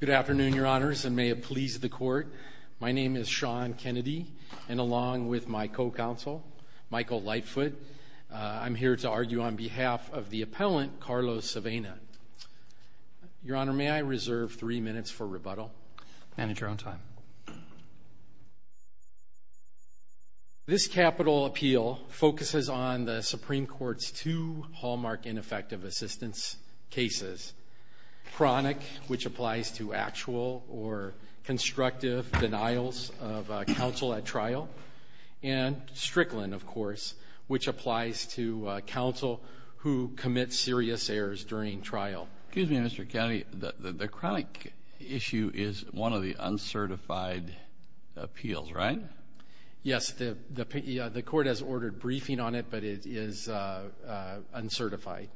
Good afternoon, Your Honors, and may it please the Court, my name is Sean Kennedy, and along with my co-counsel, Michael Lightfoot, I'm here to argue on behalf of the appellant, Carlos Avena. Your Honor, may I reserve three minutes for rebuttal? Manage your own time. Your Honor, this capital appeal focuses on the Supreme Court's two hallmark ineffective assistance cases, Chronic, which applies to actual or constructive denials of counsel at trial, and Strickland, of course, which applies to counsel who commits serious errors during trial. Excuse me, Mr. Kennedy, the Chronic issue is one of the uncertified appeals, right? Yes, the Court has ordered briefing on it, but it is uncertified.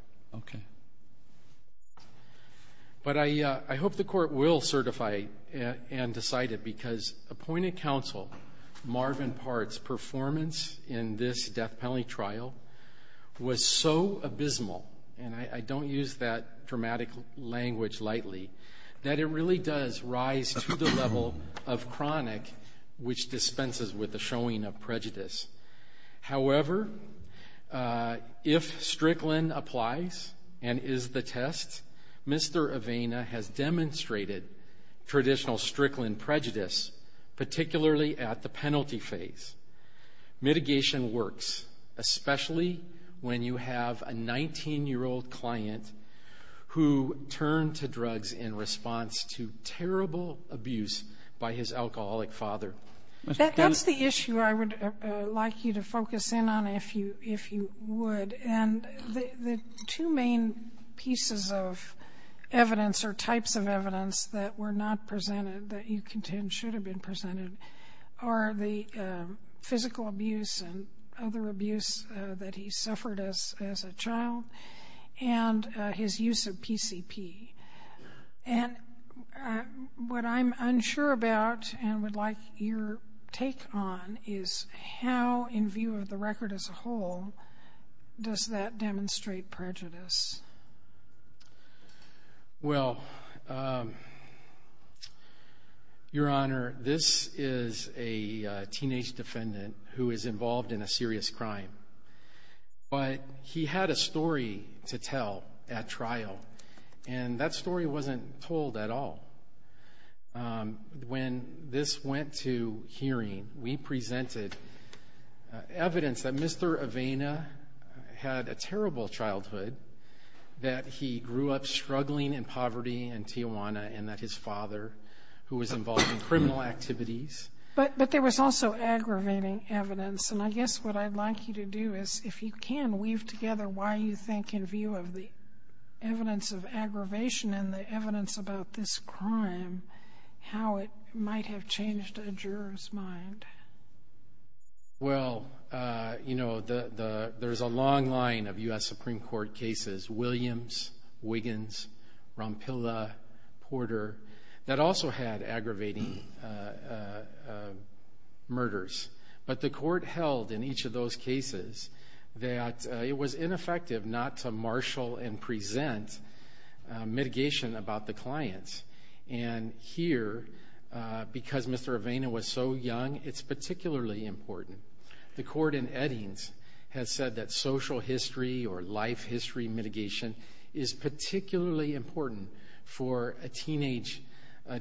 But I hope the Court will certify and decide it, because appointed counsel Marvin Part's performance in this death penalty trial was so abysmal, and I don't use that dramatic language lightly, that it really does rise to the level of Chronic, which dispenses with the showing of prejudice. However, if Strickland applies and is the test, Mr. Avena has demonstrated traditional Strickland prejudice, particularly at the penalty phase. Mitigation works, especially when you have a 19-year-old client who turned to drugs in response to terrible abuse by his alcoholic father. That's the issue I would like you to focus in on, if you would, and the two main pieces of evidence or types of evidence that were not presented, that you contend should have been presented, are the physical abuse and other abuse that he suffered as a child, and his use of PCP. And what I'm unsure about, and would like your take on, is how, in view of the record as a whole, does that demonstrate prejudice? Well, Your Honor, this is a teenage defendant who is involved in a serious crime, but he had a story to tell at trial, and that story wasn't told at all. When this went to hearing, we presented evidence that Mr. Avena had a terrible childhood, that he grew up struggling in poverty in Tijuana, and that his father, who was involved in criminal activities... But there was also aggravating evidence, and I guess what I'd like you to do is, if you can, weave together why you think, in view of the evidence of aggravation and the evidence about this crime, how it might have changed a juror's mind. Well, you know, there's a long line of U.S. Supreme Court cases, Williams, Wiggins, Rompilla, Porter, that also had aggravating murders. But the court held, in each of those cases, that it was ineffective not to marshal and And here, because Mr. Avena was so young, it's particularly important. The court in Eddings has said that social history or life history mitigation is particularly important for a teenage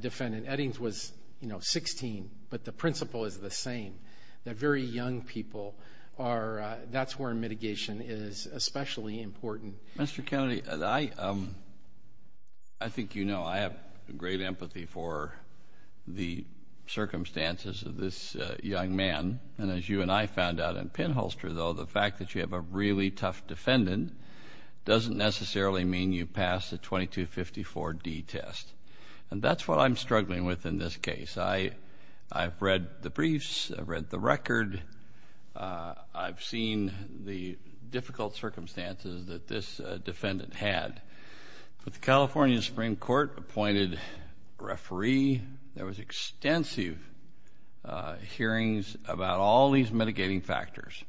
defendant. Eddings was, you know, 16, but the principle is the same, that very young people are... That's where mitigation is especially important. Mr. Kennedy, I think you know I have great empathy for the circumstances of this young man. And as you and I found out in Pinholster, though, the fact that you have a really tough defendant doesn't necessarily mean you pass the 2254D test. And that's what I'm struggling with in this case. I've read the briefs, I've read the record, I've seen the difficult circumstances that this defendant had. But the California Supreme Court appointed a referee. There was extensive hearings about all these mitigating factors.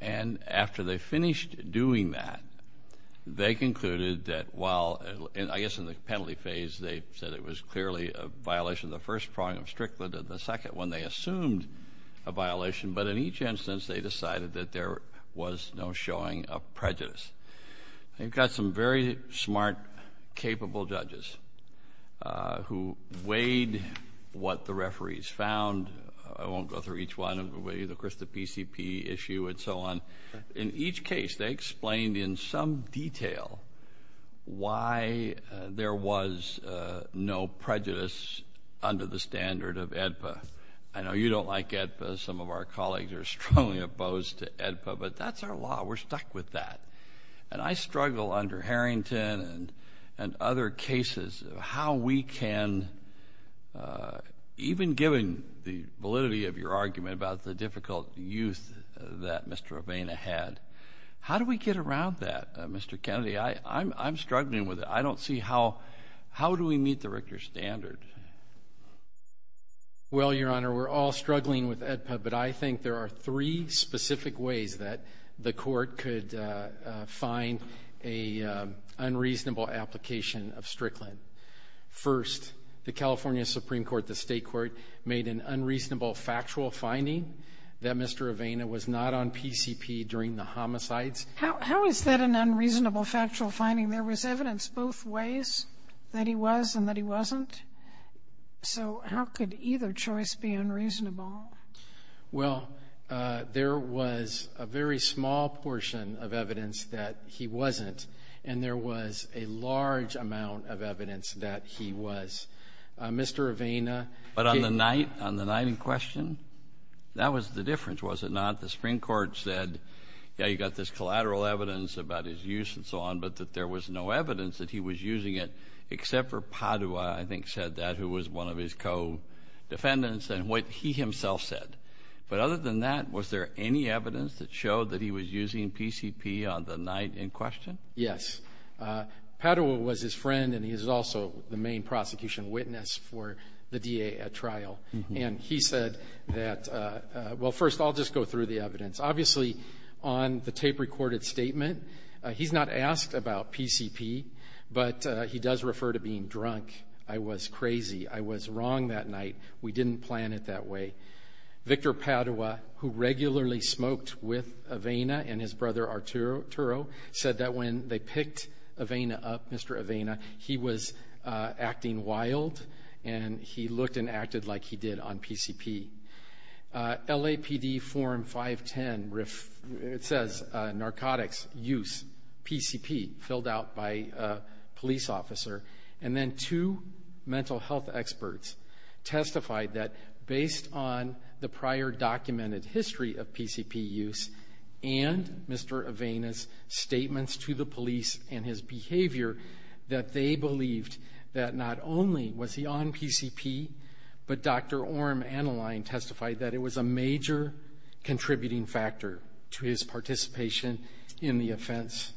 And after they finished doing that, they concluded that while, I guess in the penalty phase, they said it was clearly a violation of the first prong of Strickland and the second one they assumed a violation, but in each instance they decided that there was no showing of prejudice. They've got some very smart, capable judges who weighed what the referees found. I won't go through each one, of course the PCP issue and so on. In each case they explained in some detail why there was no prejudice under the standard of AEDPA. I know you don't like AEDPA, some of our colleagues are strongly opposed to AEDPA, but that's our law. We're stuck with that. And I struggle under Harrington and other cases of how we can, even given the validity of your argument about the difficult youth that Mr. Avena had, how do we get around that, Mr. Kennedy? I'm struggling with it. I don't see how, how do we meet the Richter standard? Well, Your Honor, we're all struggling with AEDPA, but I think there are three specific ways that the court could find an unreasonable application of Strickland. First, the California Supreme Court, the state court, made an unreasonable factual finding that Mr. Avena was not on PCP during the homicides. How is that an unreasonable factual finding? There was evidence both ways that he was and that he wasn't. So how could either choice be unreasonable? Well, there was a very small portion of evidence that he wasn't, and there was a large amount of evidence that he was. Mr. Avena But on the night, on the night in question, that was the difference, was it not? The Supreme Court said, yeah, you got this collateral evidence about his use and so on, but that there was no evidence that he was using it, except for Padua, I think said that, who was one of his co-defendants, and what he himself said. But other than that, was there any evidence that showed that he was using PCP on the night in question? Yes. Padua was his friend, and he is also the main prosecution witness for the DA at trial. And he said that, well, first, I'll just go through the evidence. Obviously, on the tape-recorded statement, he's not asked about PCP, but he does refer to being drunk. I was crazy. I was wrong that night. We didn't plan it that way. Victor Padua, who regularly smoked with Avena and his brother Arturo, said that when they picked Avena up, Mr. Avena, he was acting wild, and he looked and acted like he did on PCP. LAPD form 510, it says, narcotics use PCP, filled out by a police officer. And then two mental health experts testified that, based on the prior documented history of PCP use, and Mr. Avena's statements to the police and his behavior, that they believed that not only was he on PCP, but Dr. Orm Annaline testified that it was a major contributing factor to his participation in the offense.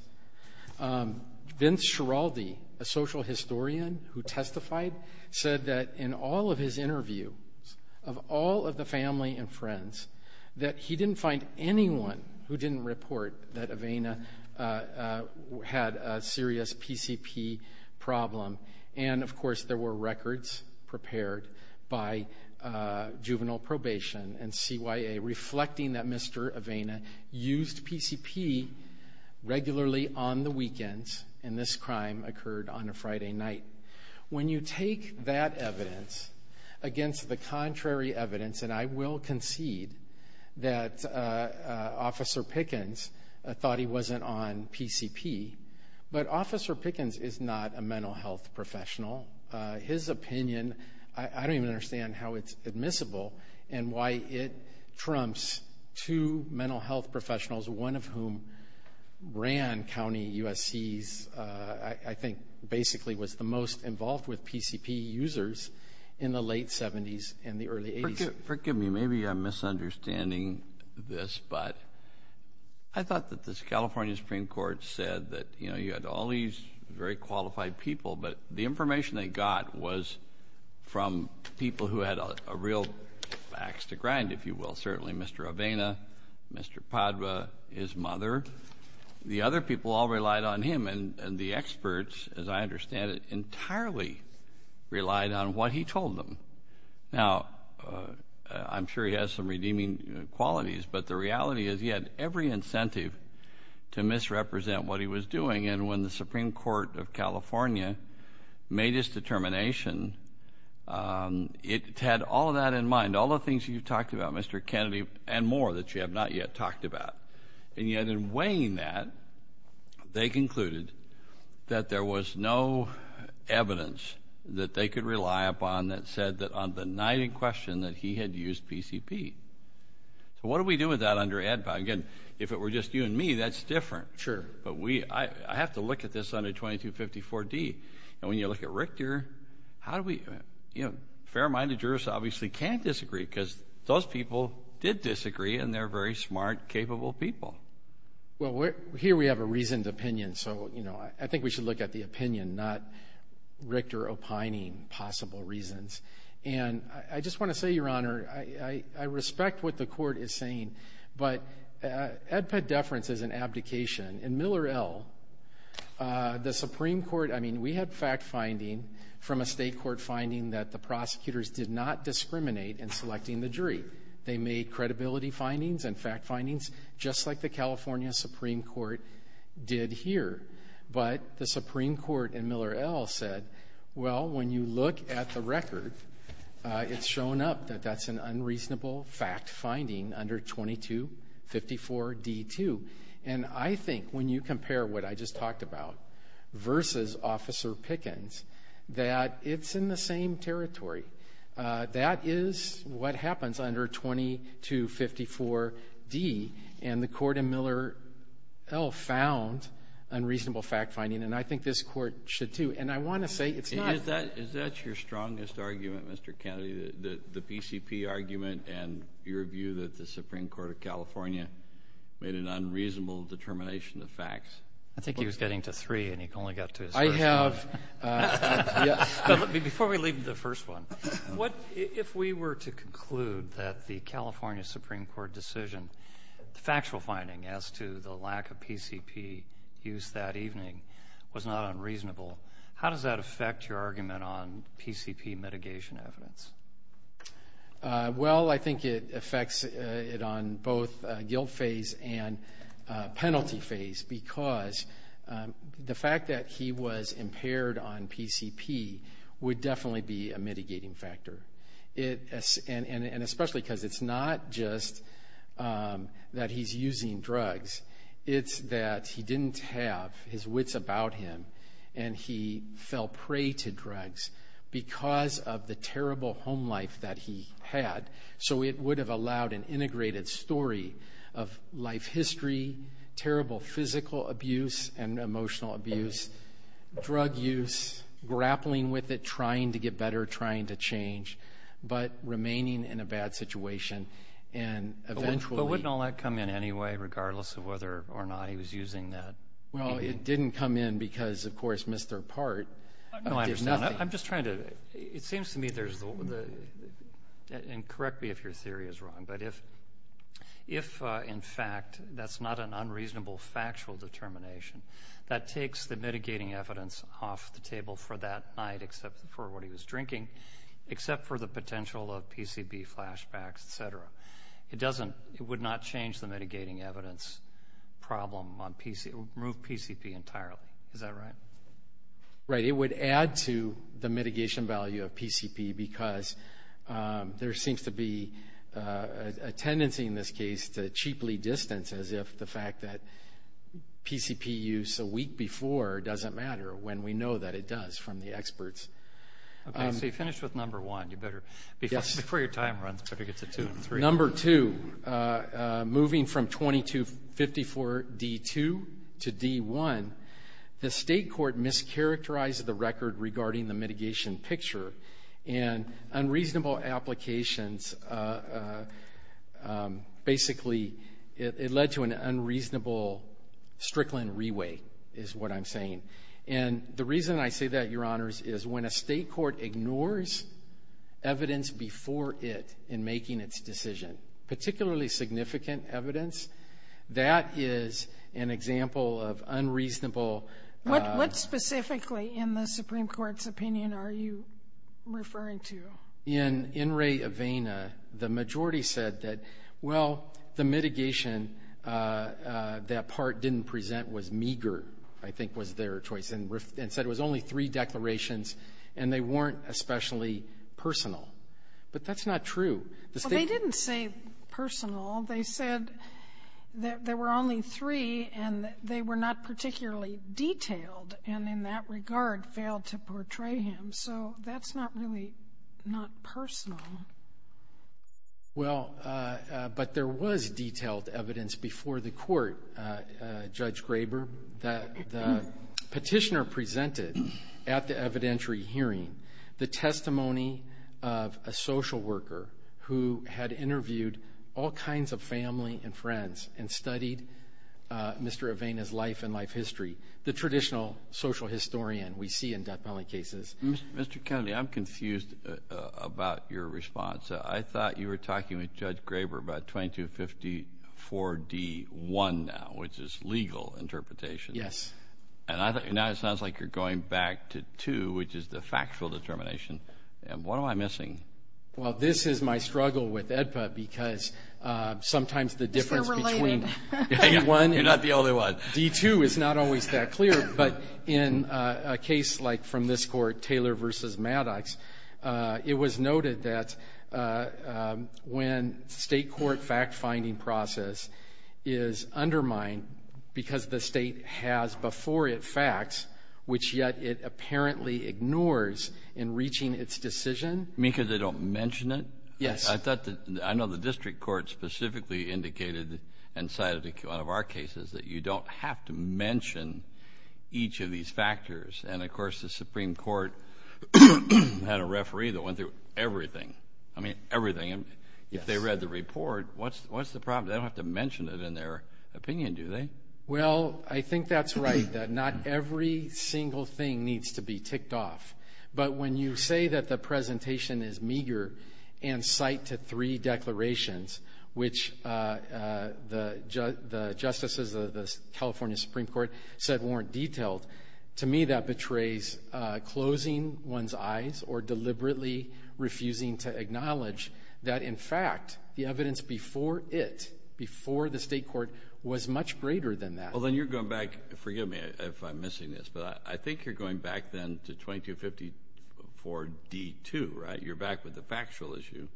Vince Schiraldi, a social historian who testified, said that in all of his interviews, of all of the family and friends, that he didn't find anyone who didn't report that Avena had a serious PCP problem. And of course, there were records prepared by juvenile probation and CYA reflecting that particularly on the weekends, and this crime occurred on a Friday night. When you take that evidence against the contrary evidence, and I will concede that Officer Pickens thought he wasn't on PCP, but Officer Pickens is not a mental health professional. His opinion, I don't even understand how it's admissible and why it trumps two mental health crime county USC's, I think basically was the most involved with PCP users in the late 70s and the early 80s. Forgive me, maybe I'm misunderstanding this, but I thought that the California Supreme Court said that, you know, you had all these very qualified people, but the information they got was from people who had a real axe to grind, if you will. Certainly Mr. Avena, Mr. Padua, his mother. The other people all relied on him, and the experts, as I understand it, entirely relied on what he told them. Now, I'm sure he has some redeeming qualities, but the reality is he had every incentive to misrepresent what he was doing, and when the Supreme Court of California made his determination, it had all of that in mind, all the things you've talked about, Mr. Kennedy, and more that you have not yet talked about. And yet in weighing that, they concluded that there was no evidence that they could rely upon that said that on the night in question that he had used PCP. So what do we do with that under ADPA? Again, if it were just you and me, that's different. Sure. But we, I have to look at this under 2254D, and when you look at Richter, how do we, you know, fair-minded jurists obviously can't disagree, because those people did disagree, and they're very smart, capable people. Well, here we have a reasoned opinion, so, you know, I think we should look at the opinion, not Richter opining possible reasons. And I just want to say, Your Honor, I respect what the court is saying, but ADPA deference is an abdication. In Miller L., the Supreme Court, I mean, we had fact-finding from a state court finding that the prosecutors did not discriminate in selecting the jury. They made credibility findings and fact findings, just like the California Supreme Court did here, but the Supreme Court in Miller L. said, well, when you look at the record, it's shown up that that's an unreasonable fact-finding under 2254D2, and I think when you compare what I just talked about versus Officer Pickens, that it's in the same territory. That is what happens under 2254D, and the court in Miller L. found unreasonable fact-finding, and I think this court should, too. And I want to say, it's not... Is that your strongest argument, Mr. Kennedy, the PCP argument and your view that the Supreme Court of California made an unreasonable determination of facts? I think he was getting to three, and he only got to his first one. I have... But before we leave the first one, what... If we were to conclude that the California Supreme Court decision, the factual finding as to the lack of PCP use that evening was not unreasonable, how does that affect your argument on PCP mitigation evidence? Well, I think it affects it on both guilt phase and penalty phase, because the fact that he was impaired on PCP would definitely be a mitigating factor, and especially because it's not just that he's using drugs. It's that he didn't have his wits about him, and he fell prey to drugs because of the terrible home life that he had, so it would have allowed an integrated story of life history, terrible physical abuse and emotional abuse, drug use, grappling with it, trying to get better, trying to change, but remaining in a bad situation, and eventually... But wouldn't all that come in anyway, regardless of whether or not he was using that? Well, it didn't come in because, of course, Mr. Part did nothing. I'm just trying to... It seems to me there's the... And correct me if your theory is wrong, but if, in fact, that's not an unreasonable factual determination that takes the mitigating evidence off the table for that night, except for what he was drinking, except for the potential of PCP flashbacks, et cetera, it would not change the mitigating evidence problem, remove PCP entirely, is that right? Right, it would add to the mitigation value of PCP, because there seems to be a tendency in this case to cheaply distance, as if the fact that PCP use a week before doesn't matter, when we know that it does, from the experts. Okay, so you finished with number one, you better... Yes. Before your time runs, better get to two and three. Number two, moving from 2254 D2 to D1, the state court mischaracterized the record regarding the mitigation picture, and unreasonable applications, basically, it led to an unreasonable Strickland re-weight, is what I'm saying. And the reason I say that, your honors, is when a state court ignores evidence before it in making its decision, particularly significant evidence, that is an example of unreasonable... What specifically, in the Supreme Court's opinion, are you referring to? In In re Avena, the majority said that, well, the mitigation, that part didn't present was meager, I think was their choice, and said it was only three declarations, and they weren't especially personal. But that's not true. Well, they didn't say personal. They said that there were only three, and they were not particularly detailed, and in that regard, failed to portray him. So that's not really not personal. Well, but there was detailed evidence before the Court, Judge Graber, that the Petitioner presented at the evidentiary hearing, the testimony of a social worker who had interviewed all kinds of family and friends, and studied Mr. Avena's life and life history, the traditional social historian we see in death penalty cases. Mr. Kennedy, I'm confused about your response. I thought you were talking with Judge Graber about 2254-D-1 now, which is legal interpretation. Yes. And now it sounds like you're going back to 2, which is the factual determination. What am I missing? Well, this is my struggle with AEDPA, because sometimes the difference between D-1 and D-2 is not always that clear, but in a case like from this Court, Taylor v. Maddox, it was I mean, because they don't mention it? Yes. I thought that—I know the District Court specifically indicated, and cited in one of our cases, that you don't have to mention each of these factors. And, of course, the Supreme Court had a referee that went through everything. I mean, everything. If they read the report, what's the problem? They don't have to mention it in their opinion, do they? Well, I think that's right, that not every single thing needs to be ticked off. But when you say that the presentation is meager and cite to three declarations, which the justices of the California Supreme Court said weren't detailed, to me that betrays closing one's eyes or deliberately refusing to acknowledge that, in fact, the evidence before it, before the State court, was much greater than that. Well, then you're going back—forgive me if I'm missing this, but I think you're going back, then, to 2254d-2, right? You're back with the factual issue,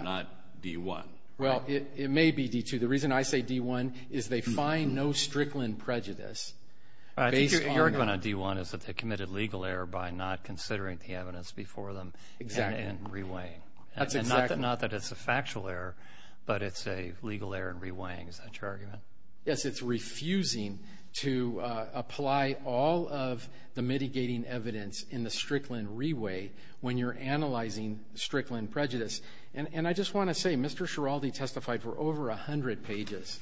not d-1, right? Well, it may be d-2. The reason I say d-1 is they find no Strickland prejudice based on— I think your argument on d-1 is that they committed legal error by not considering the evidence before them and reweighing. Exactly. That's exactly— Well, is it not that it's a factual error, but it's a legal error in reweighing? Is that your argument? Yes, it's refusing to apply all of the mitigating evidence in the Strickland reweigh when you're analyzing Strickland prejudice. And I just want to say, Mr. Schiraldi testified for over 100 pages.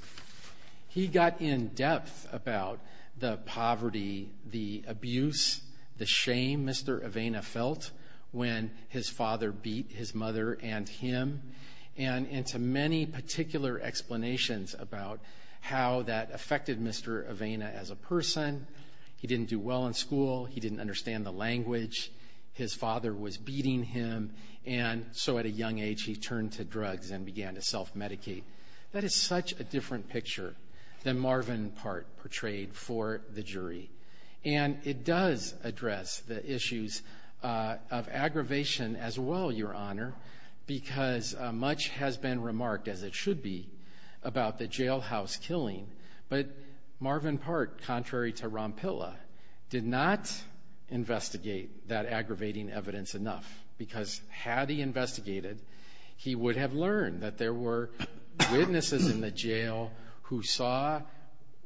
He got in-depth about the poverty, the abuse, the shame Mr. Avena felt when his father beat his mother and him, and into many particular explanations about how that affected Mr. Avena as a person. He didn't do well in school. He didn't understand the language. His father was beating him, and so at a young age, he turned to drugs and began to self-medicate. That is such a different picture than Marvin Part portrayed for the jury. And it does address the issues of aggravation as well, Your Honor, because much has been remarked, as it should be, about the jailhouse killing, but Marvin Part, contrary to Rompilla, did not investigate that aggravating evidence enough, because had he investigated, he would have learned that there were witnesses in the jail who saw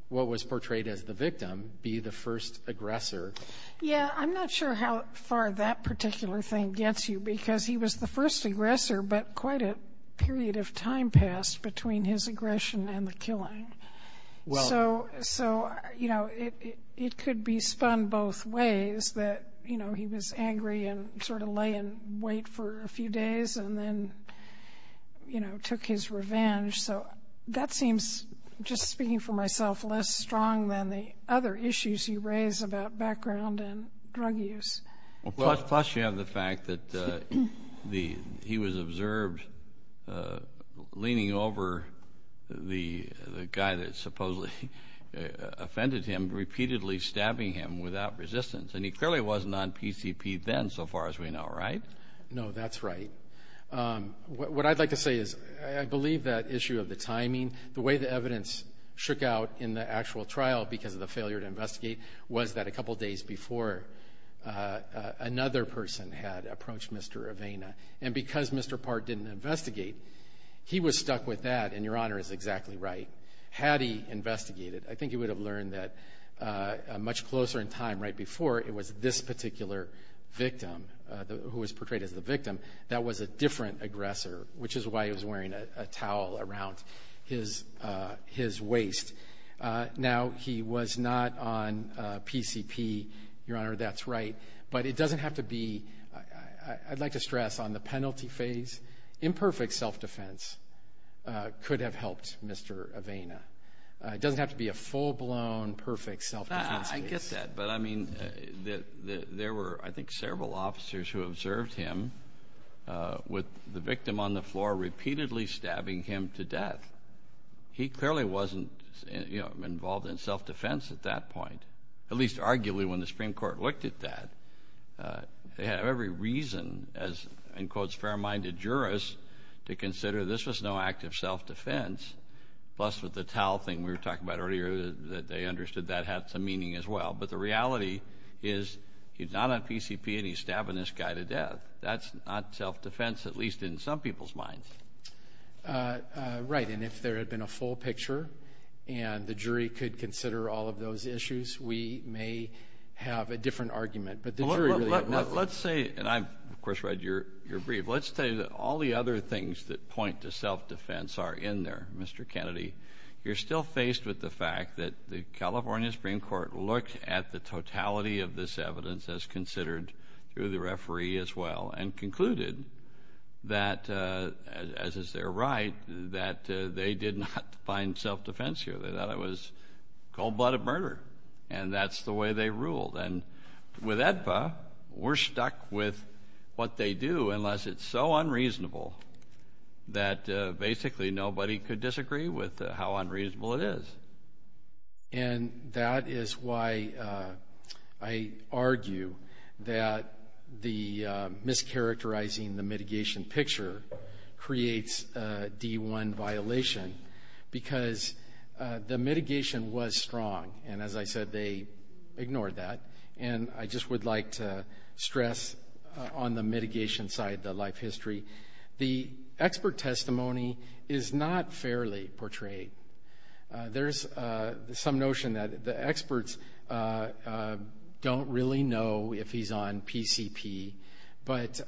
what was portrayed as the first aggressor. Yeah, I'm not sure how far that particular thing gets you, because he was the first aggressor, but quite a period of time passed between his aggression and the killing. So it could be spun both ways, that he was angry and sort of lay in wait for a few days and then took his revenge. So that seems, just speaking for myself, less strong than the other issues you raise about background and drug use. Well, plus you have the fact that he was observed leaning over the guy that supposedly offended him, repeatedly stabbing him without resistance, and he clearly wasn't on PCP then, so far as we know, right? No, that's right. So, what I'd like to say is, I believe that issue of the timing, the way the evidence shook out in the actual trial because of the failure to investigate, was that a couple days before, another person had approached Mr. Avena, and because Mr. Part didn't investigate, he was stuck with that, and your Honor is exactly right. Had he investigated, I think he would have learned that much closer in time, right before, it was this particular victim, who was portrayed as the victim, that was a different aggressor, which is why he was wearing a towel around his waist. Now he was not on PCP, your Honor, that's right, but it doesn't have to be, I'd like to stress on the penalty phase, imperfect self-defense could have helped Mr. Avena. It doesn't have to be a full-blown, perfect self-defense case. I get that, but I mean, there were, I think, several officers who observed him, with the victim on the floor, repeatedly stabbing him to death. He clearly wasn't involved in self-defense at that point, at least arguably when the Supreme Court looked at that, they had every reason, as in quotes, fair-minded jurists, to consider this was no act of self-defense, plus with the towel thing we were talking about earlier, that they understood that had some meaning as well, but the reality is he's not on PCP, and he's stabbing this guy to death. That's not self-defense, at least in some people's minds. Right, and if there had been a full picture, and the jury could consider all of those issues, we may have a different argument, but the jury really had nothing. Let's say, and I, of course, read your brief, let's say that all the other things that point to self-defense are in there, Mr. Kennedy, you're still faced with the fact that the California Supreme Court looked at the totality of this evidence as considered through the referee as well, and concluded that, as is their right, that they did not find self-defense here. They thought it was cold-blooded murder, and that's the way they ruled, and with AEDPA, we're stuck with what they do, unless it's so unreasonable that basically nobody could disagree with how unreasonable it is. And that is why I argue that the mischaracterizing the mitigation picture creates a D1 violation, because the mitigation was strong, and as I said, they ignored that, and I just would like to stress on the mitigation side, the life history, the expert testimony is not fairly portrayed. There's some notion that the experts don't really know if he's on PCP, but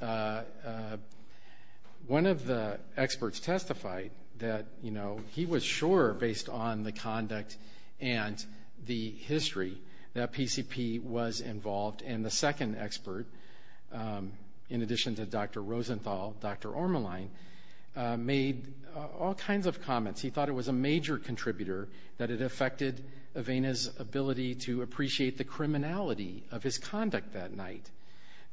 one of the experts testified that he was sure, based on the conduct and the history, that PCP was involved, and the second expert, in addition to Dr. Rosenthal, Dr. Ormeline, made all kinds of comments. He thought it was a major contributor, that it affected Avena's ability to appreciate the criminality of his conduct that night,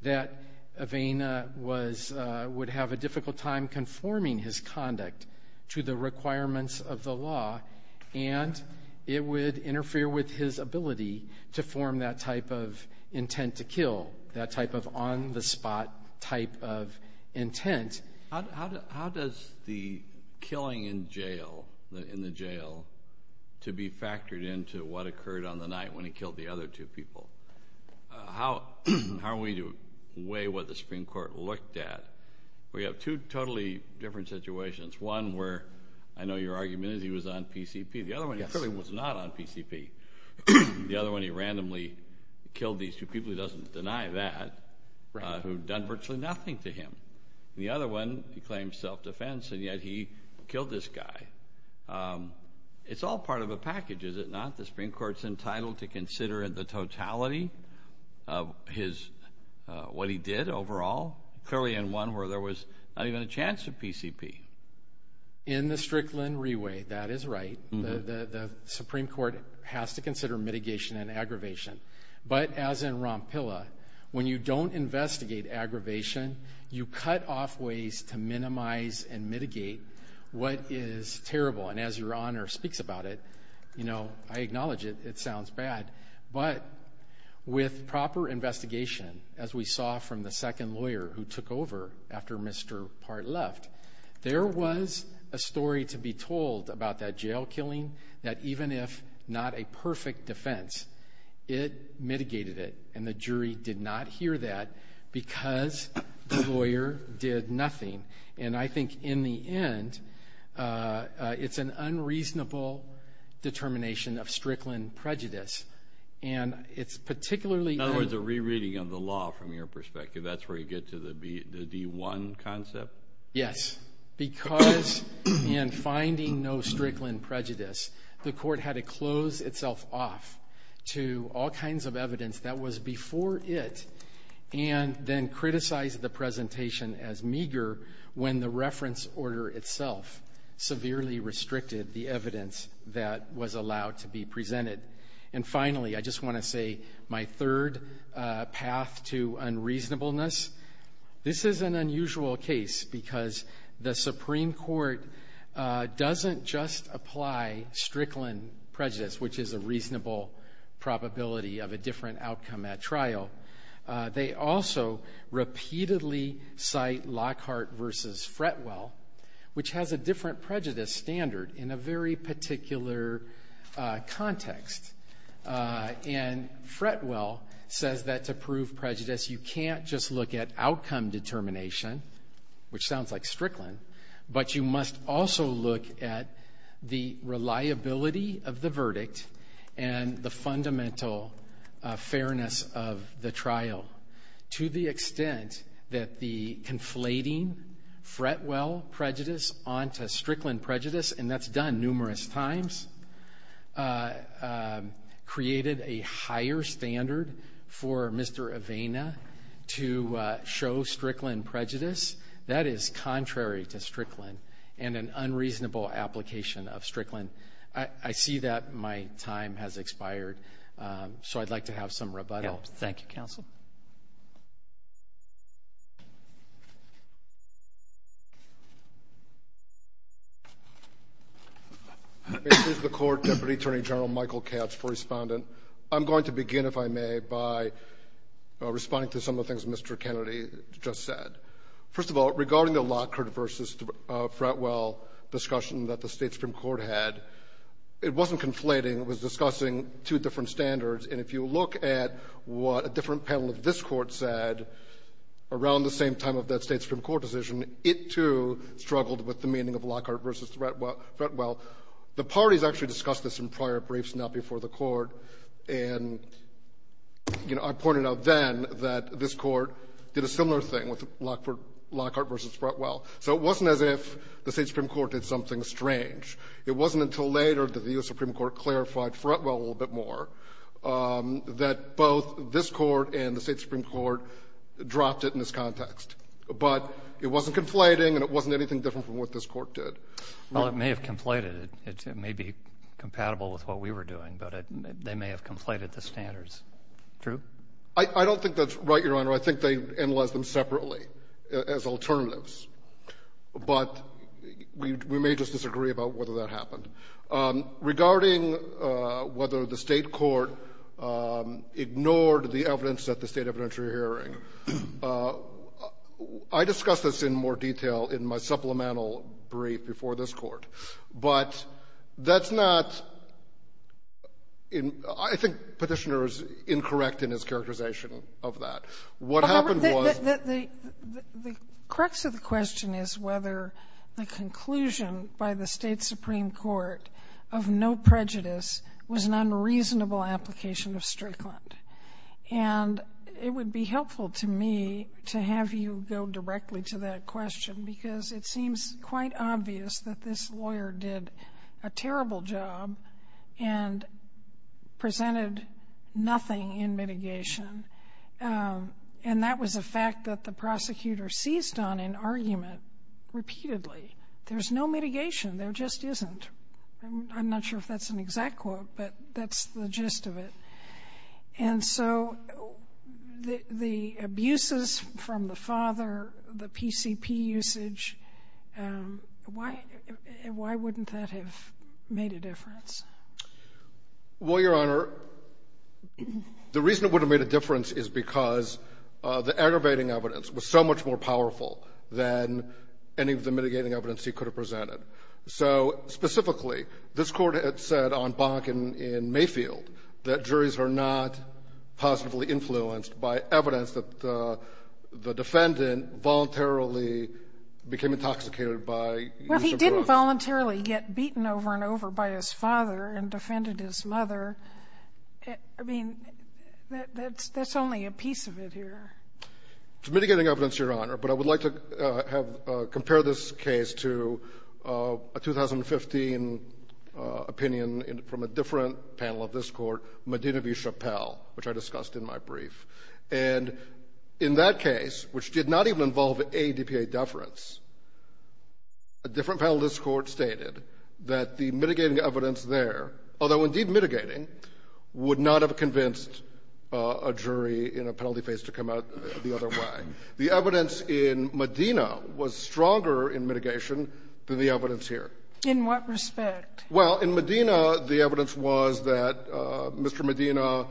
that Avena would have a difficult time conforming his conduct to the requirements of the law, and it would interfere with his ability to intend to kill, that type of on-the-spot type of intent. How does the killing in jail, in the jail, to be factored into what occurred on the night when he killed the other two people? How are we to weigh what the Supreme Court looked at? We have two totally different situations, one where I know your argument is he was on PCP. The other one, he clearly was not on PCP. The other one, he randomly killed these two people, he doesn't deny that, who had done virtually nothing to him. The other one, he claims self-defense, and yet he killed this guy. It's all part of a package, is it not? The Supreme Court's entitled to consider the totality of what he did overall, clearly in one where there was not even a chance of PCP. In the Strickland Re-way, that is right, the Supreme Court has to consider mitigation and aggravation, but as in Rompilla, when you don't investigate aggravation, you cut off ways to minimize and mitigate what is terrible, and as your Honor speaks about it, you know, I acknowledge it, it sounds bad, but with proper investigation, as we saw from the second There was a story to be told about that jail killing, that even if not a perfect defense, it mitigated it, and the jury did not hear that because the lawyer did nothing, and I think in the end, it's an unreasonable determination of Strickland prejudice, and it's particularly In other words, a re-reading of the law from your perspective, that's where you get to the D1 concept? Yes, because in finding no Strickland prejudice, the court had to close itself off to all kinds of evidence that was before it, and then criticize the presentation as meager when the reference order itself severely restricted the evidence that was allowed to be presented. And finally, I just want to say my third path to unreasonableness, this is an unusual case because the Supreme Court doesn't just apply Strickland prejudice, which is a reasonable probability of a different outcome at trial, they also repeatedly cite Lockhart v. Fretwell, which has a different prejudice standard in a very particular context, and Fretwell says that to prove prejudice, you can't just look at outcome determination, which sounds like Strickland, but you must also look at the reliability of the verdict and the fundamental fairness of the trial, to the extent that the conflating Fretwell prejudice onto Strickland prejudice, and that's done numerous times, created a higher standard for Mr. Avena to show Strickland prejudice, that is contrary to Strickland, and an unreasonable application of I'd like to have some rebuttals. Thank you, counsel. May it please the Court, Deputy Attorney General Michael Katz for respondent. I'm going to begin, if I may, by responding to some of the things Mr. Kennedy just said. First of all, regarding the Lockhart v. Fretwell discussion that the State Supreme Court had, it wasn't conflating. It was discussing two different standards, and if you look at what a different panel of this Court said around the same time of that State Supreme Court decision, it, too, struggled with the meaning of Lockhart v. Fretwell. The parties actually discussed this in prior briefs, not before the Court, and, you know, I pointed out then that this Court did a similar thing with Lockhart v. Fretwell. So it wasn't as if the State Supreme Court did something strange. It wasn't until later that the U.S. Supreme Court clarified Fretwell a little bit more that both this Court and the State Supreme Court dropped it in this context. But it wasn't conflating, and it wasn't anything different from what this Court did. Well, it may have conflated. It may be compatible with what we were doing, but they may have conflated the standards. True? I don't think that's right, Your Honor. I think they analyzed them separately as alternatives. But we may just disagree about whether that happened. Regarding whether the State court ignored the evidence at the State evidentiary hearing, I discussed this in more detail in my supplemental brief before this Court. But that's not an — I think Petitioner is incorrect in his characterization of that. What happened was — The crux of the question is whether the conclusion by the State Supreme Court of no prejudice was an unreasonable application of Strickland. And it would be helpful to me to have you go directly to that question, because it seems quite obvious that this lawyer did a terrible job and presented nothing in mitigation. And that was a fact that the prosecutor seized on in argument repeatedly. There's no mitigation. There just isn't. I'm not sure if that's an exact quote, but that's the gist of it. And so the abuses from the father, the PCP usage, why wouldn't that have made a difference? Well, Your Honor, the reason it would have made a difference is because the aggravating evidence was so much more powerful than any of the mitigating evidence he could have presented. So specifically, this Court had said on Bonk and in Mayfield that juries are not positively influenced by evidence that the defendant voluntarily became intoxicated by using drugs. Well, he didn't voluntarily get beaten over and over by his father and defended his mother. I mean, that's only a piece of it here. To mitigating evidence, Your Honor, but I would like to have – compare this case to a 2015 opinion from a different panel of this Court, Medina v. Chappell, which I discussed in my brief. And in that case, which did not even involve a DPA deference, a different panel of this Court stated that the mitigating evidence there, although indeed mitigating, would not have convinced a jury in a penalty phase to come out the other way. The evidence in Medina was stronger in mitigation than the evidence here. In what respect? Well, in Medina, the evidence was that Mr. Medina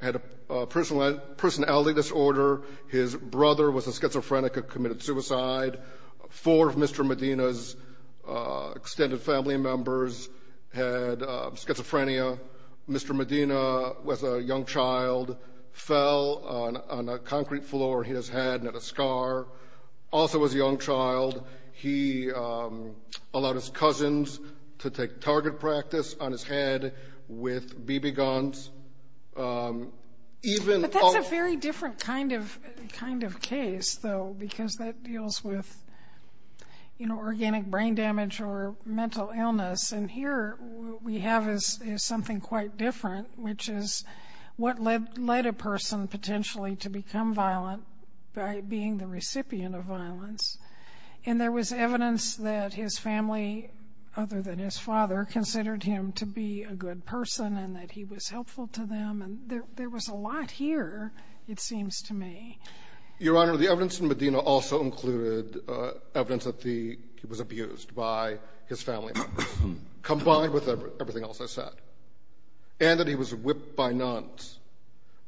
had a personality disorder. His brother was a schizophrenic, had committed suicide. Four of Mr. Medina's extended family members had schizophrenia. Mr. Medina was a young child, fell on a concrete floor, hit his head, and had a scar. Also was a young child. He allowed his cousins to take target practice on his head with BB guns. Even – But that's a very different kind of case, though, because that deals with, you know, organic brain damage or mental illness. And here, what we have is something quite different, which is what led a person potentially to become violent by being the recipient of violence. And there was evidence that his family, other than his father, considered him to be a good person and that he was helpful to them. And there was a lot here, it seems to me. Your Honor, the evidence in Medina also included evidence that he was abused by his family combined with everything else I said, and that he was whipped by nuns.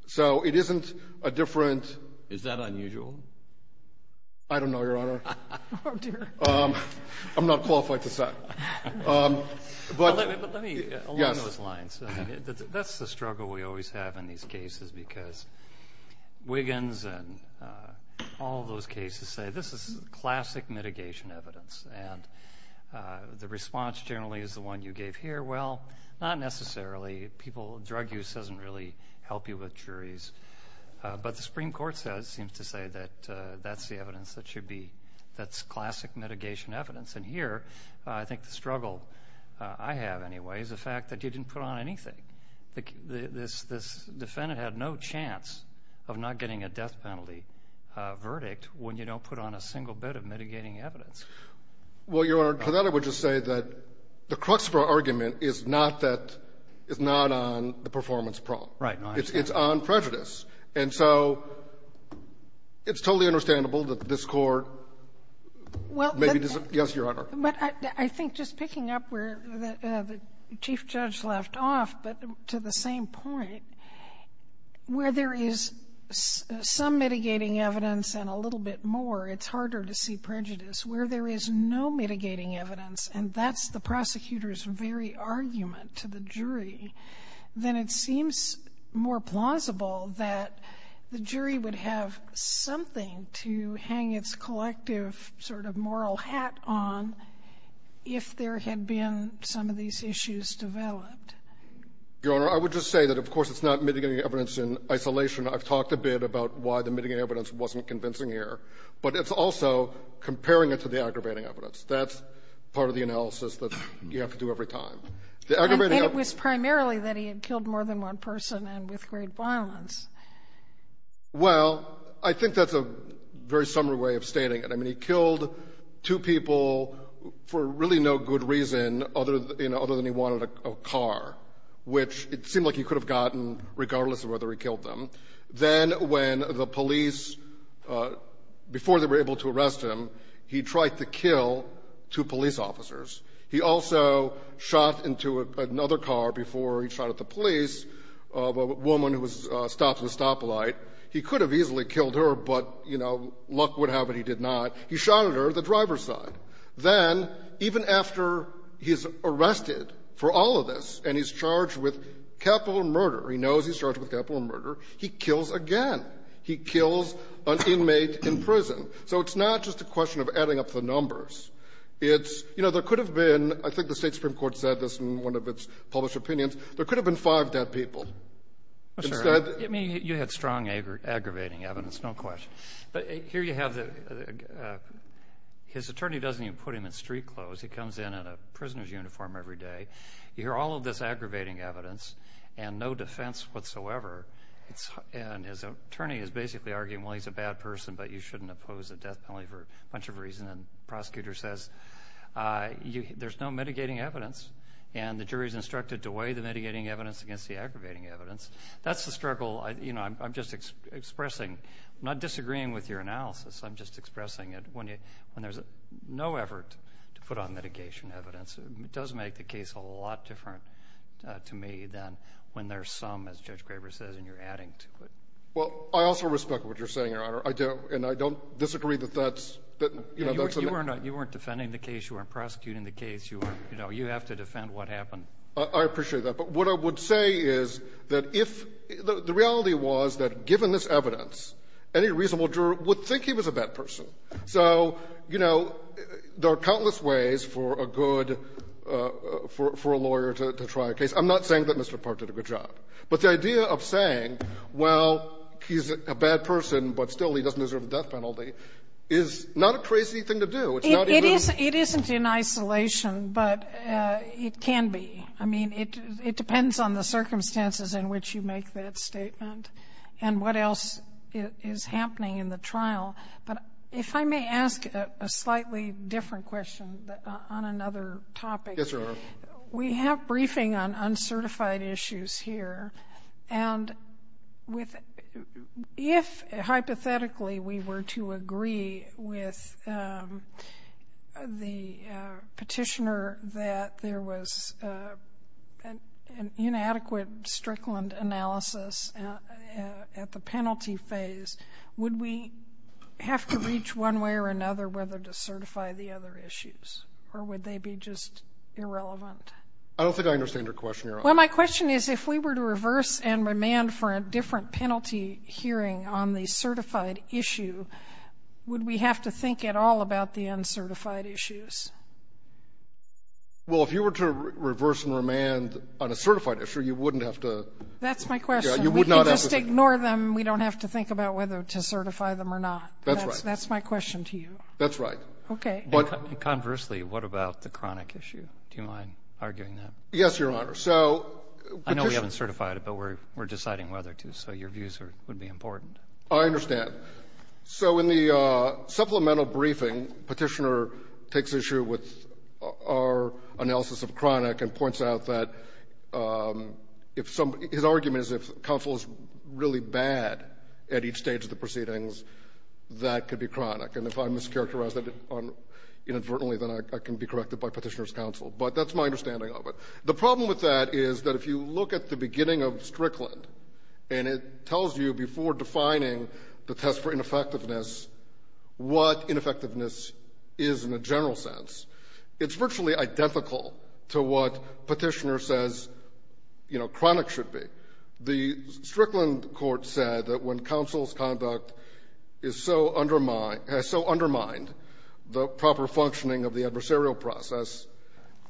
So it isn't a different – Is that unusual? I don't know, Your Honor. Oh, dear. I'm not qualified to say. But – But let me – Yes. Along those lines, that's the struggle we always have in these cases, because Wiggins and all of those cases say this is classic mitigation evidence. And the response generally is the one you gave here, well, not necessarily. People – drug use doesn't really help you with juries. But the Supreme Court says – seems to say that that's the evidence that should be – that's classic mitigation evidence. And here, I think the struggle I have, anyway, is the fact that you didn't put on anything. This defendant had no chance of not getting a death penalty verdict when you don't put on a single bit of mitigating evidence. Well, Your Honor, to that I would just say that the Cruxborough argument is not that – is not on the performance problem. Right. No, I understand. It's on prejudice. And so it's totally understandable that this Court maybe doesn't – yes, Your Honor. But I think just picking up where the Chief Judge left off, but to the same point, where there is some mitigating evidence and a little bit more, it's harder to see prejudice. Where there is no mitigating evidence, and that's the prosecutor's very argument to the jury, then it seems more plausible that the jury would have something to hang its collective sort of moral hat on if there had been some of these issues developed. Your Honor, I would just say that, of course, it's not mitigating evidence in isolation. I've talked a bit about why the mitigating evidence wasn't convincing here. But it's also comparing it to the aggravating evidence. That's part of the analysis that you have to do every time. The aggravating evidence – And it was primarily that he had killed more than one person and with great violence. Well, I think that's a very summary way of stating it. I mean, he killed two people for really no good reason other than he wanted a car, which it seemed like he could have gotten regardless of whether he killed them. Then when the police – before they were able to arrest him, he tried to kill two police officers. He also shot into another car before he shot at the police of a woman who was stopped at a stoplight. He could have easily killed her, but, you know, luck would have it he did not. He shot at her at the driver's side. Then, even after he's arrested for all of this and he's charged with capital murder – he knows he's charged with capital murder – he kills again. He kills an inmate in prison. So it's not just a question of adding up the numbers. It's – you know, there could have been – I think the State supreme court said this in one of its published opinions – there could have been five dead people. But, sir, I mean, you had strong aggravating evidence, no question. But here you have the – his attorney doesn't even put him in street clothes. He comes in in a prisoner's uniform every day. You hear all of this aggravating evidence and no defense whatsoever, and his attorney is basically arguing, well, he's a bad person, but you shouldn't oppose a death penalty for a bunch of reasons. And the prosecutor says, there's no mitigating evidence, and the jury's instructed to weigh the mitigating evidence against the aggravating evidence. That's the struggle I – you know, I'm just expressing – I'm not disagreeing with your analysis. I'm just expressing it. When there's no effort to put on mitigation evidence, it does make the case a lot different to me than when there's some, as Judge Graber says, and you're adding to it. Well, I also respect what you're saying, Your Honor. I do, and I don't disagree that that's – that, you know, that's a – You weren't defending the case. You weren't prosecuting the case. You were – you know, you have to defend what happened. I appreciate that. But what I would say is that if – the reality was that given this evidence, any reasonable juror would think he was a bad person. So, you know, there are countless ways for a good – for a lawyer to try a case. I'm not saying that Mr. Park did a good job. But the idea of saying, well, he's a bad person, but still he doesn't deserve a death penalty, is not a crazy thing to do. It's not even a – But it can be. I mean, it depends on the circumstances in which you make that statement and what else is happening in the trial. But if I may ask a slightly different question on another topic. Yes, Your Honor. We have briefing on uncertified issues here, and with – if, hypothetically, we were to agree with the petitioner that there was an inadequate Strickland analysis at the penalty phase, would we have to reach one way or another whether to certify the other issues? Or would they be just irrelevant? I don't think I understand your question, Your Honor. Well, my question is if we were to reverse and remand for a different penalty hearing on the certified issue, would we have to think at all about the uncertified issues? Well, if you were to reverse and remand on a certified issue, you wouldn't have to – That's my question. You would not have to think about whether to certify them or not. That's right. That's my question to you. That's right. Okay. Conversely, what about the chronic issue? Do you mind arguing that? Yes, Your Honor. So petitioner – I know we haven't certified it, but we're deciding whether to. So your views would be important. I understand. So in the supplemental briefing, Petitioner takes issue with our analysis of chronic and points out that if some – his argument is if counsel is really bad at each stage of the proceedings, that could be chronic. And if I mischaracterize that inadvertently, then I can be corrected by Petitioner's counsel. But that's my understanding of it. The problem with that is that if you look at the beginning of Strickland and it tells you before defining the test for ineffectiveness what ineffectiveness is in a general sense, it's virtually identical to what Petitioner says chronic should be. The Strickland court said that when counsel's conduct is so – has so undermined the proper functioning of the adversarial process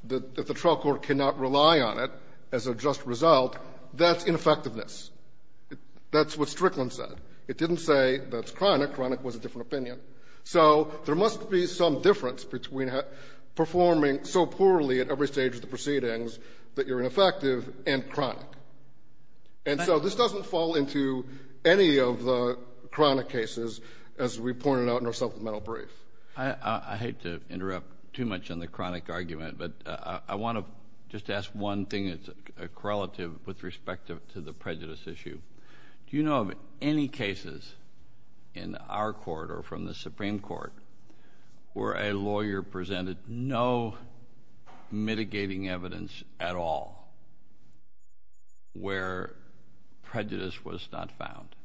that the trial court cannot rely on it as a just result, that's ineffectiveness. That's what Strickland said. It didn't say that's chronic. Chronic was a different opinion. So there must be some difference between performing so poorly at every stage of the proceedings that you're ineffective and chronic. And so this doesn't fall into any of the chronic cases as we pointed out in our supplemental brief. I hate to interrupt too much on the chronic argument, but I want to just ask one thing that's a correlative with respect to the prejudice issue. Do you know of any cases in our court or from the Supreme Court where a lawyer presented no mitigating evidence at all where prejudice was not found?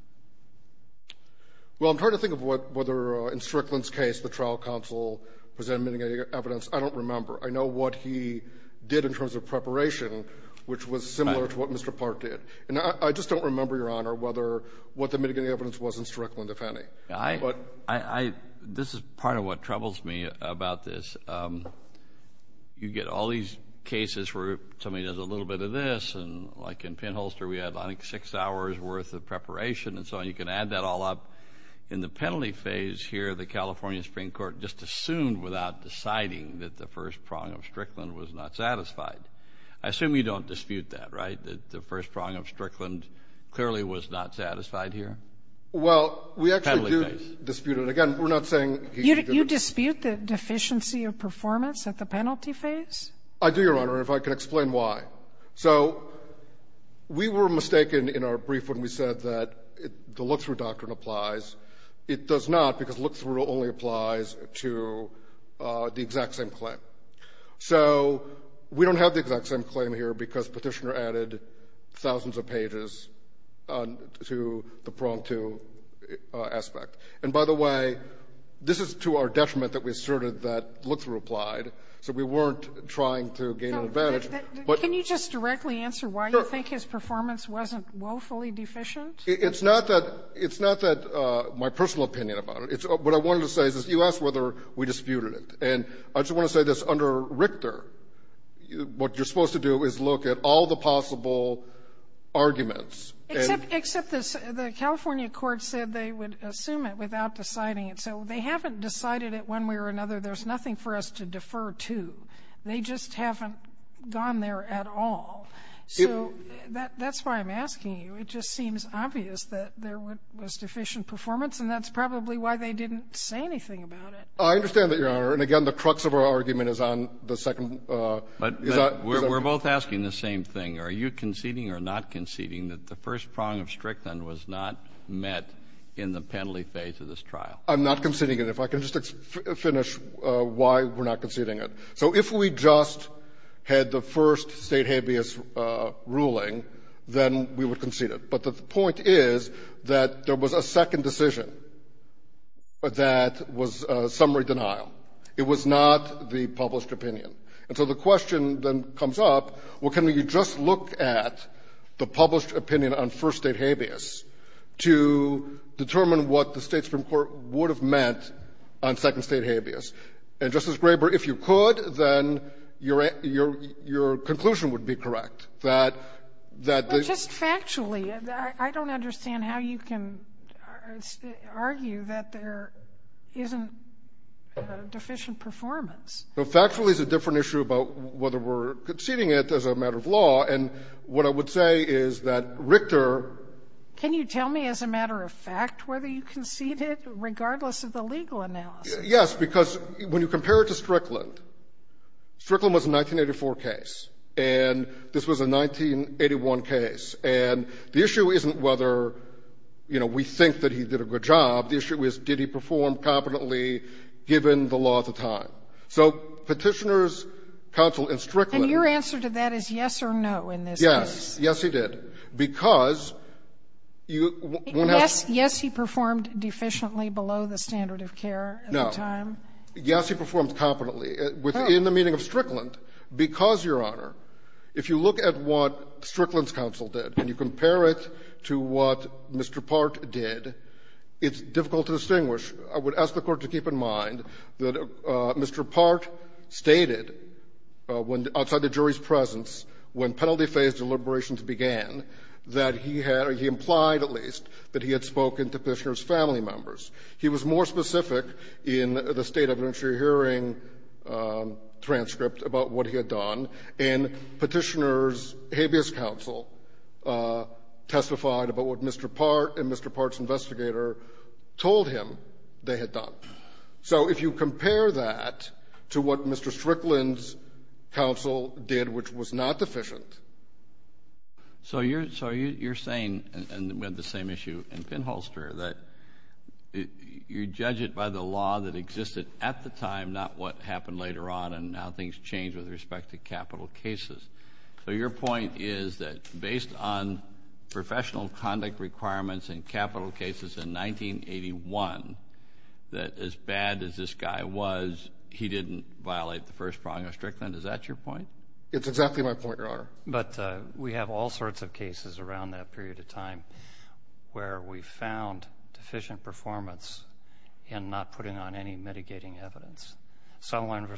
Well, I'm trying to think of whether in Strickland's case the trial counsel presented mitigating evidence. I don't remember. I know what he did in terms of preparation, which was similar to what Mr. Park did. And I just don't remember, Your Honor, whether what the mitigating evidence was in Strickland, if any. I – this is part of what troubles me about this. You get all these cases where somebody does a little bit of this, and like in Pinholster we had like six hours' worth of preparation and so on. You can add that all up. In the penalty phase here, the California Supreme Court just assumed without deciding that the first prong of Strickland was not satisfied. I assume you don't dispute that, right? That the first prong of Strickland clearly was not satisfied here? Penalty phase. Well, we actually do dispute it. Again, we're not saying he should do it. You dispute the deficiency of performance at the penalty phase? I do, Your Honor, and if I could explain why. So we were mistaken in our brief when we said that the look-through doctrine applies. It does not because look-through only applies to the exact same claim. So we don't have the exact same claim here because Petitioner added thousands of pages to the prong two aspect. And by the way, this is to our detriment that we asserted that look-through Can you just directly answer why you think his performance wasn't woefully deficient? It's not that my personal opinion about it. What I wanted to say is you asked whether we disputed it. And I just want to say this. Under Richter, what you're supposed to do is look at all the possible arguments. Except the California court said they would assume it without deciding it. So they haven't decided it one way or another. There's nothing for us to defer to. They just haven't gone there at all. So that's why I'm asking you. It just seems obvious that there was deficient performance, and that's probably why they didn't say anything about it. I understand that, Your Honor. And again, the crux of our argument is on the second. But we're both asking the same thing. Are you conceding or not conceding that the first prong of Strickland was not met in the penalty phase of this trial? I'm not conceding it. If I can just finish why we're not conceding it. So if we just had the first State habeas ruling, then we would concede it. But the point is that there was a second decision that was summary denial. It was not the published opinion. And so the question then comes up, well, can we just look at the published opinion on first State habeas to determine what the State Supreme Court would have meant on second State habeas? And, Justice Graber, if you could, then your conclusion would be correct, that the ---- But just factually, I don't understand how you can argue that there isn't deficient performance. Well, factually, it's a different issue about whether we're conceding it as a matter of law. And what I would say is that Richter ---- Can you tell me as a matter of fact whether you conceded it, regardless of the legal analysis? Yes. Because when you compare it to Strickland, Strickland was a 1984 case. And this was a 1981 case. And the issue isn't whether, you know, we think that he did a good job. The issue is, did he perform competently, given the law at the time? So Petitioners, counsel in Strickland ---- And your answer to that is yes or no in this case. Yes. Yes, he did. Because you ---- Yes. Yes, he performed deficiently below the standard of care. No. At the time. Yes, he performed competently within the meaning of Strickland because, Your Honor, if you look at what Strickland's counsel did and you compare it to what Mr. Part did, it's difficult to distinguish. I would ask the Court to keep in mind that Mr. Part stated when ---- outside the jury's presence, when penalty phase deliberations began, that he had or he implied at least that he had spoken to Petitioner's family members. He was more specific in the State of the Jury hearing transcript about what he had done, and Petitioner's habeas counsel testified about what Mr. Part and Mr. Part's investigator told him they had done. So if you compare that to what Mr. Strickland's counsel did, which was not deficient So you're saying, and we had the same issue in Pinholster, that you judge it by the law that existed at the time, not what happened later on, and now things change with respect to capital cases. So your point is that based on professional conduct requirements and capital cases in 1981, that as bad as this guy was, he didn't violate the first prong of Strickland. It's exactly my point, Your Honor. But we have all sorts of cases around that period of time where we found deficient performance in not putting on any mitigating evidence. Sullivan v.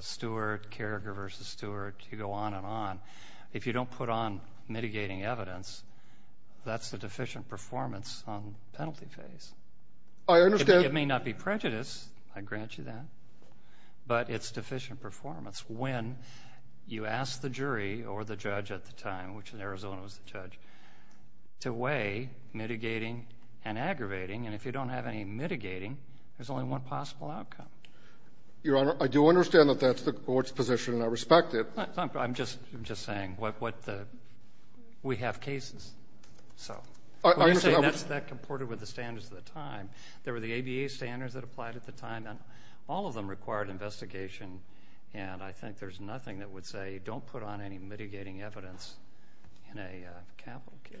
Stewart, Carragher v. Stewart, you go on and on. If you don't put on mitigating evidence, that's the deficient performance on penalty phase. I understand. It may not be prejudice, I grant you that, but it's deficient performance. When you ask the jury or the judge at the time, which in Arizona was the judge, to weigh mitigating and aggravating, and if you don't have any mitigating, there's only one possible outcome. Your Honor, I do understand that that's the court's position and I respect it. I'm just saying, we have cases. So when you say that's comported with the standards of the time, there were the ABA standards that applied at the time, and all of them required investigation, and I think there's nothing that would say don't put on any mitigating evidence in a capital case.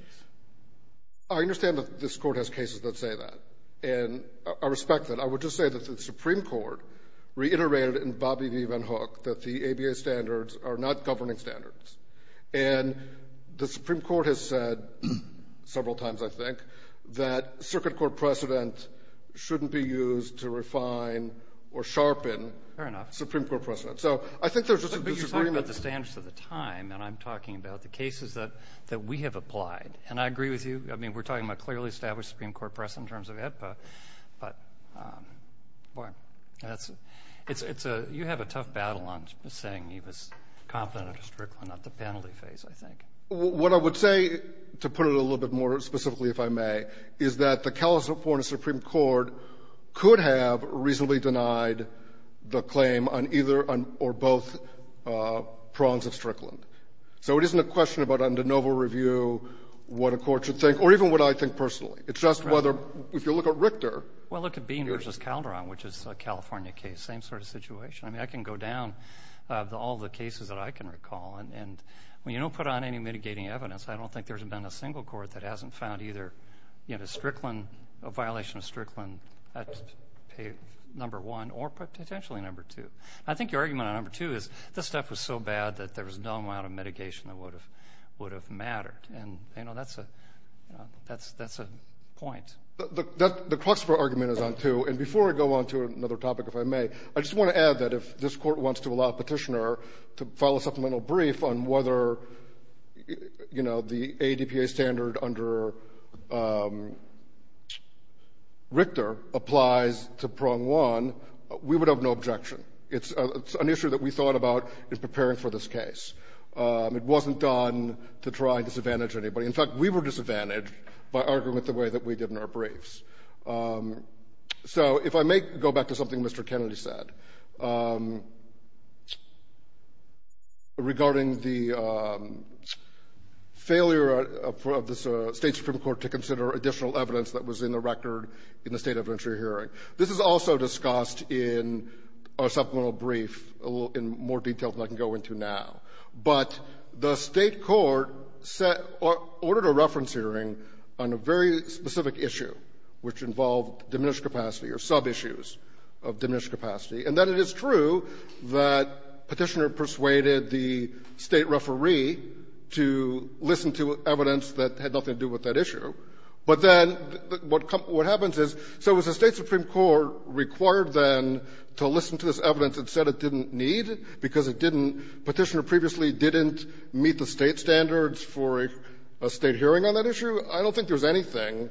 I understand that this court has cases that say that, and I respect that. I would just say that the Supreme Court reiterated in Bobby v. Van Hook that the ABA standards are not governing standards. And the Supreme Court has said several times, I think, that circuit court precedent shouldn't be used to refine or sharpen. Fair enough. Supreme Court precedent. So I think there's just a disagreement. But you're talking about the standards of the time, and I'm talking about the cases that we have applied. And I agree with you. I mean, we're talking about clearly established Supreme Court precedent in terms of AEDPA, but, boy, you have a tough battle on saying he was competent or not the penalty phase, I think. What I would say, to put it a little bit more specifically, if I may, is that the California Supreme Court could have reasonably denied the claim on either or both prongs of Strickland. So it isn't a question about under novel review what a court should think or even what I think personally. It's just whether, if you look at Richter. Well, look at Bean v. Calderon, which is a California case, same sort of situation. I mean, I can go down all the cases that I can recall, and when you don't put on any mitigating evidence, I don't think there's been a single court that hasn't found either Strickland, a violation of Strickland at number one or potentially number two. I think your argument on number two is this stuff was so bad that there was no amount of mitigation that would have mattered. And that's a point. But the Croxper argument is on two. And before I go on to another topic, if I may, I just want to add that if this court wants to allow a petitioner to file a supplemental brief on whether the AEDPA standard under Richter applies to prong one, we would have no objection. It's an issue that we thought about in preparing for this case. It wasn't done to try and disadvantage anybody. In fact, we were disadvantaged by arguing it the way that we did in our briefs. So if I may go back to something Mr. Kennedy said. Regarding the failure of the State Supreme Court to consider additional evidence that was in the record in the state evidentiary hearing. This is also discussed in our supplemental brief in more detail than I can go into now. But the State court set or ordered a reference hearing on a very specific issue, which involved diminished capacity or sub-issues of diminished capacity. And then it is true that Petitioner persuaded the State referee to listen to evidence that had nothing to do with that issue. But then what happens is, so was the State Supreme Court required then to listen to this evidence that said it didn't need because it didn't – Petitioner previously didn't meet the State standards for a State hearing on that issue? I don't think there's anything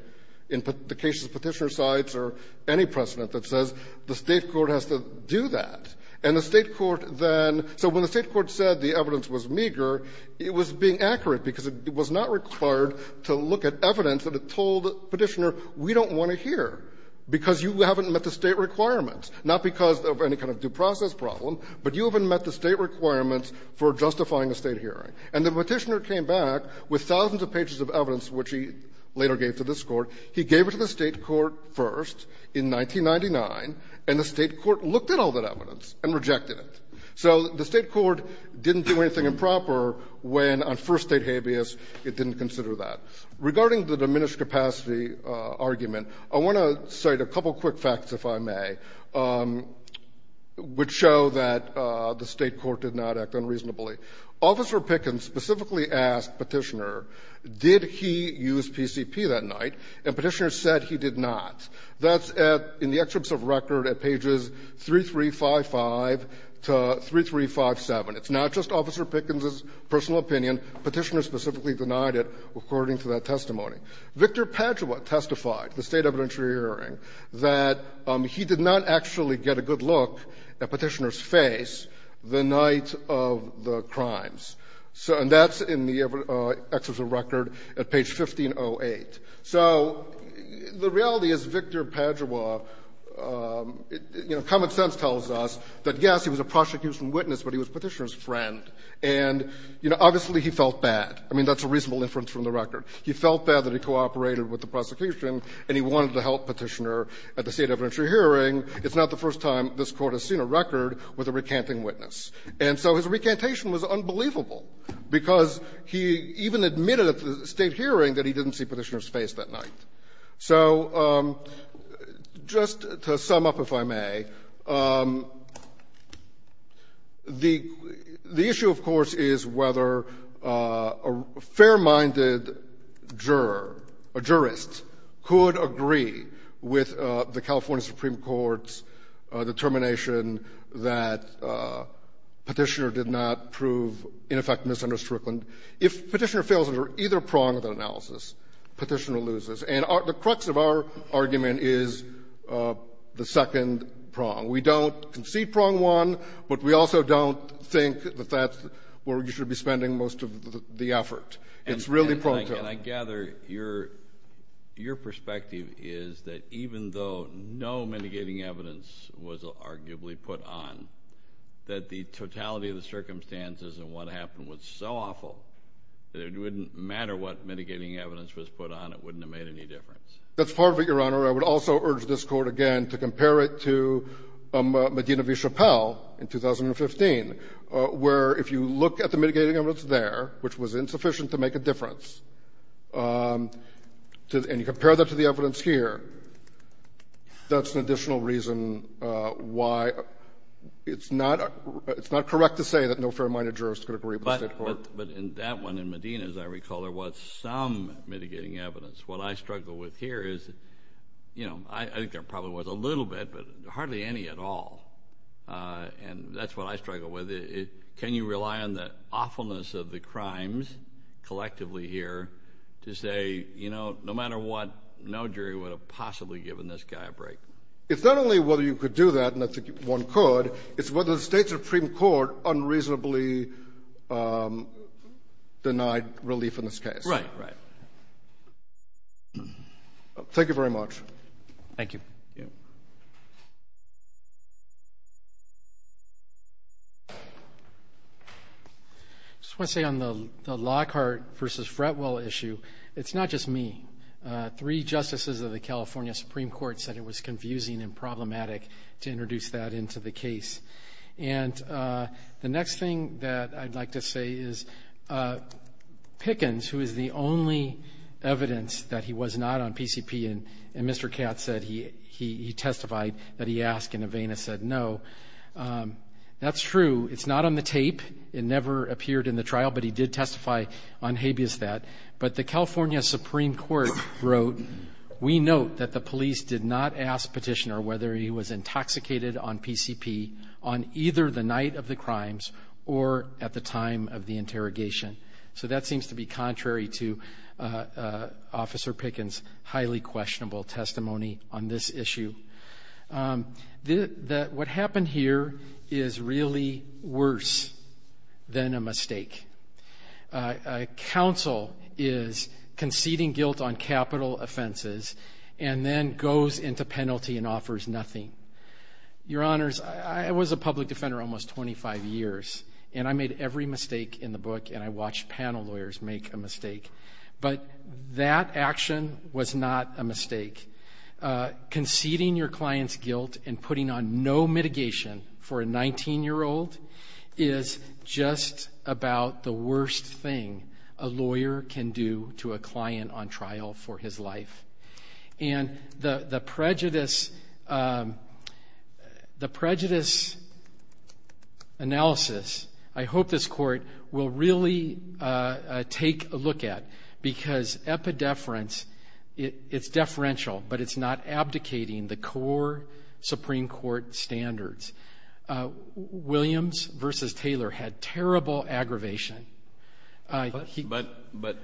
in the cases Petitioner cites or any precedent that says the State court has to do that. And the State court then – so when the State court said the evidence was meager, it was being accurate because it was not required to look at evidence that it told Petitioner, we don't want to hear because you haven't met the State requirements, not because of any kind of due process problem, but you haven't met the State requirements for justifying a State hearing. And the Petitioner came back with thousands of pages of evidence, which he later gave to this Court. He gave it to the State court first in 1999, and the State court looked at all that evidence and rejected it. So the State court didn't do anything improper when, on first State habeas, it didn't consider that. Regarding the diminished capacity argument, I want to cite a couple quick facts, if I may, which show that the State court did not act unreasonably. Officer Pickens specifically asked Petitioner, did he use PCP that night, and Petitioner said he did not. That's at – in the excerpts of record at pages 3355 to 3357. It's not just Officer Pickens's personal opinion. Petitioner specifically denied it according to that testimony. Victor Padua testified, the State evidentiary hearing, that he did not actually get a good look at Petitioner's testimony the night of the crimes. And that's in the excerpts of record at page 1508. So the reality is, Victor Padua, you know, common sense tells us that, yes, he was a prosecution witness, but he was Petitioner's friend. And, you know, obviously, he felt bad. I mean, that's a reasonable inference from the record. He felt bad that he cooperated with the prosecution, and he wanted to help Petitioner at the State hearing as a recanting witness. And so his recantation was unbelievable, because he even admitted at the State hearing that he didn't see Petitioner's face that night. So just to sum up, if I may, the issue, of course, is whether a fair-minded juror, a jurist, could agree with the California Supreme Court's that Petitioner did not prove, in effect, misunderstood Brooklyn. If Petitioner fails under either prong of the analysis, Petitioner loses. And the crux of our argument is the second prong. We don't concede prong one, but we also don't think that that's where we should be spending most of the effort. It's really prong two. And I gather your — your perspective is that even though no mitigating evidence was arguably put on, that the totality of the circumstances and what happened was so awful that it wouldn't matter what mitigating evidence was put on. It wouldn't have made any difference. That's part of it, Your Honor. I would also urge this Court, again, to compare it to Medina v. Chappelle in 2015, where if you look at the mitigating evidence there, which was insufficient to make a difference, and you compare that to the why, it's not — it's not correct to say that no fair-minded jurist could agree with the State Court. But in that one, in Medina, as I recall, there was some mitigating evidence. What I struggle with here is, you know, I think there probably was a little bit, but hardly any at all. And that's what I struggle with. Can you rely on the awfulness of the crimes collectively here to say, you know, no matter what, no jury would have possibly given this guy a break? It's not only whether you could do that, and I think one could, it's whether the State supreme court unreasonably denied relief in this case. Right. Right. Thank you very much. Thank you. Thank you. I just want to say on the Lockhart v. Fretwell issue, it's not just me. Three justices of the California Supreme Court said it was confusing and problematic to introduce that into the case. And the next thing that I'd like to say is, Pickens, who is the only evidence that he was not on PCP, and Mr. Katz said he testified that he asked and Avena said no, that's true. It's not on the tape. It never appeared in the trial, but he did testify on habeas that. But the California Supreme Court wrote, we note that the police did not ask petitioner whether he was intoxicated on PCP on either the night of the crimes or at the time of the interrogation. So that seems to be contrary to Officer Pickens' highly questionable testimony on this issue. What happened here is really worse than a mistake. A counsel is conceding guilt on capital offenses and then goes into penalty and offers nothing. Your Honors, I was a public defender almost 25 years and I made every mistake in the book and I watched panel lawyers make a mistake. But that action was not a mistake. Conceding your client's guilt and putting on no mitigation for a 19-year-old is just about the worst thing a lawyer can do to a client on trial for his life. And the prejudice analysis I hope this Court will really take a look at because epidefference, it's deferential, but it's not abdicating the core Supreme Court standards. Williams v. Taylor had terrible aggravation. But...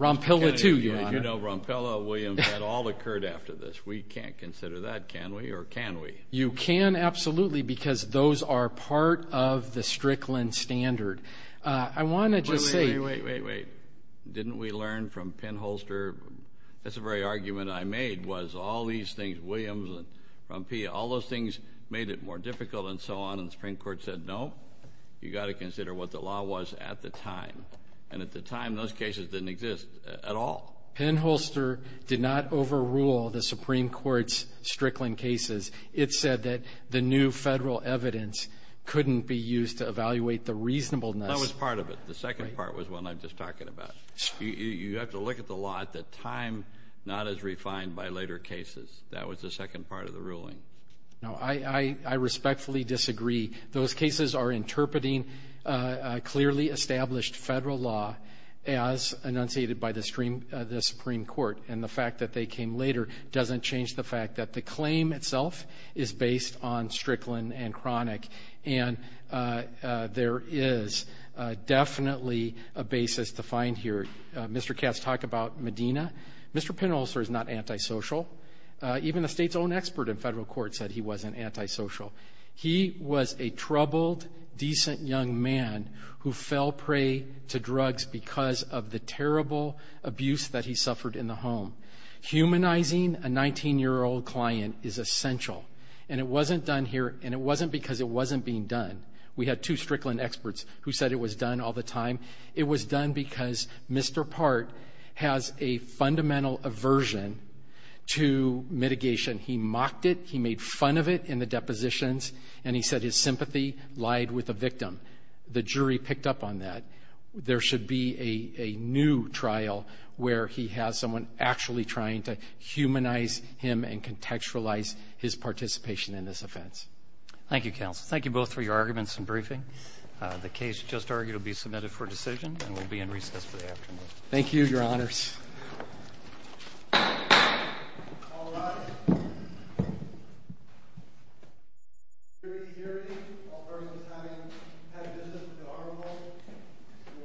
Rompilla too, Your Honor. You know, Rompilla, Williams, that all occurred after this. We can't consider that, can we, or can we? You can absolutely because those are part of the Strickland standard. I want to just say... Wait, wait, wait. Didn't we learn from Penholster? That's the very argument I made was all these things, Williams and Rompilla, all those things made it more difficult and so on, and the Supreme Court said, No, you've got to consider what the law was at the time. And at the time, those cases didn't exist at all. Penholster did not overrule the Supreme Court's Strickland cases. It said that the new federal evidence couldn't be used to evaluate the reasonableness. That was part of it. The second part was the one I was just talking about. You have to look at the law at the time, not as refined by later cases. That was the second part of the ruling. No, I respectfully disagree. Those cases are interpreting clearly established federal law as enunciated by the Supreme Court. And the fact that they came later doesn't change the fact that the claim itself is based on Strickland and Chronic. And there is definitely a basis to find here. Mr. Katz talked about Medina. Mr. Penholster is not antisocial. Even a state's own expert in federal court said he wasn't antisocial. He was a troubled, decent young man who fell prey to drugs because of the terrible abuse that he suffered in the home. Humanizing a 19-year-old client is essential. And it wasn't done here, and it wasn't because it wasn't being done. We had two Strickland experts who said it was done all the time. It was done because Mr. Part has a fundamental aversion to mitigation. He mocked it. He made fun of it in the depositions. And he said his sympathy lied with the victim. The jury picked up on that. There should be a new trial where he has someone actually trying to humanize him and contextualize his participation in this offense. Thank you, counsel. Thank you both for your arguments and briefing. The case just argued will be submitted for decision and will be in recess for the afternoon. Thank you, Your Honors.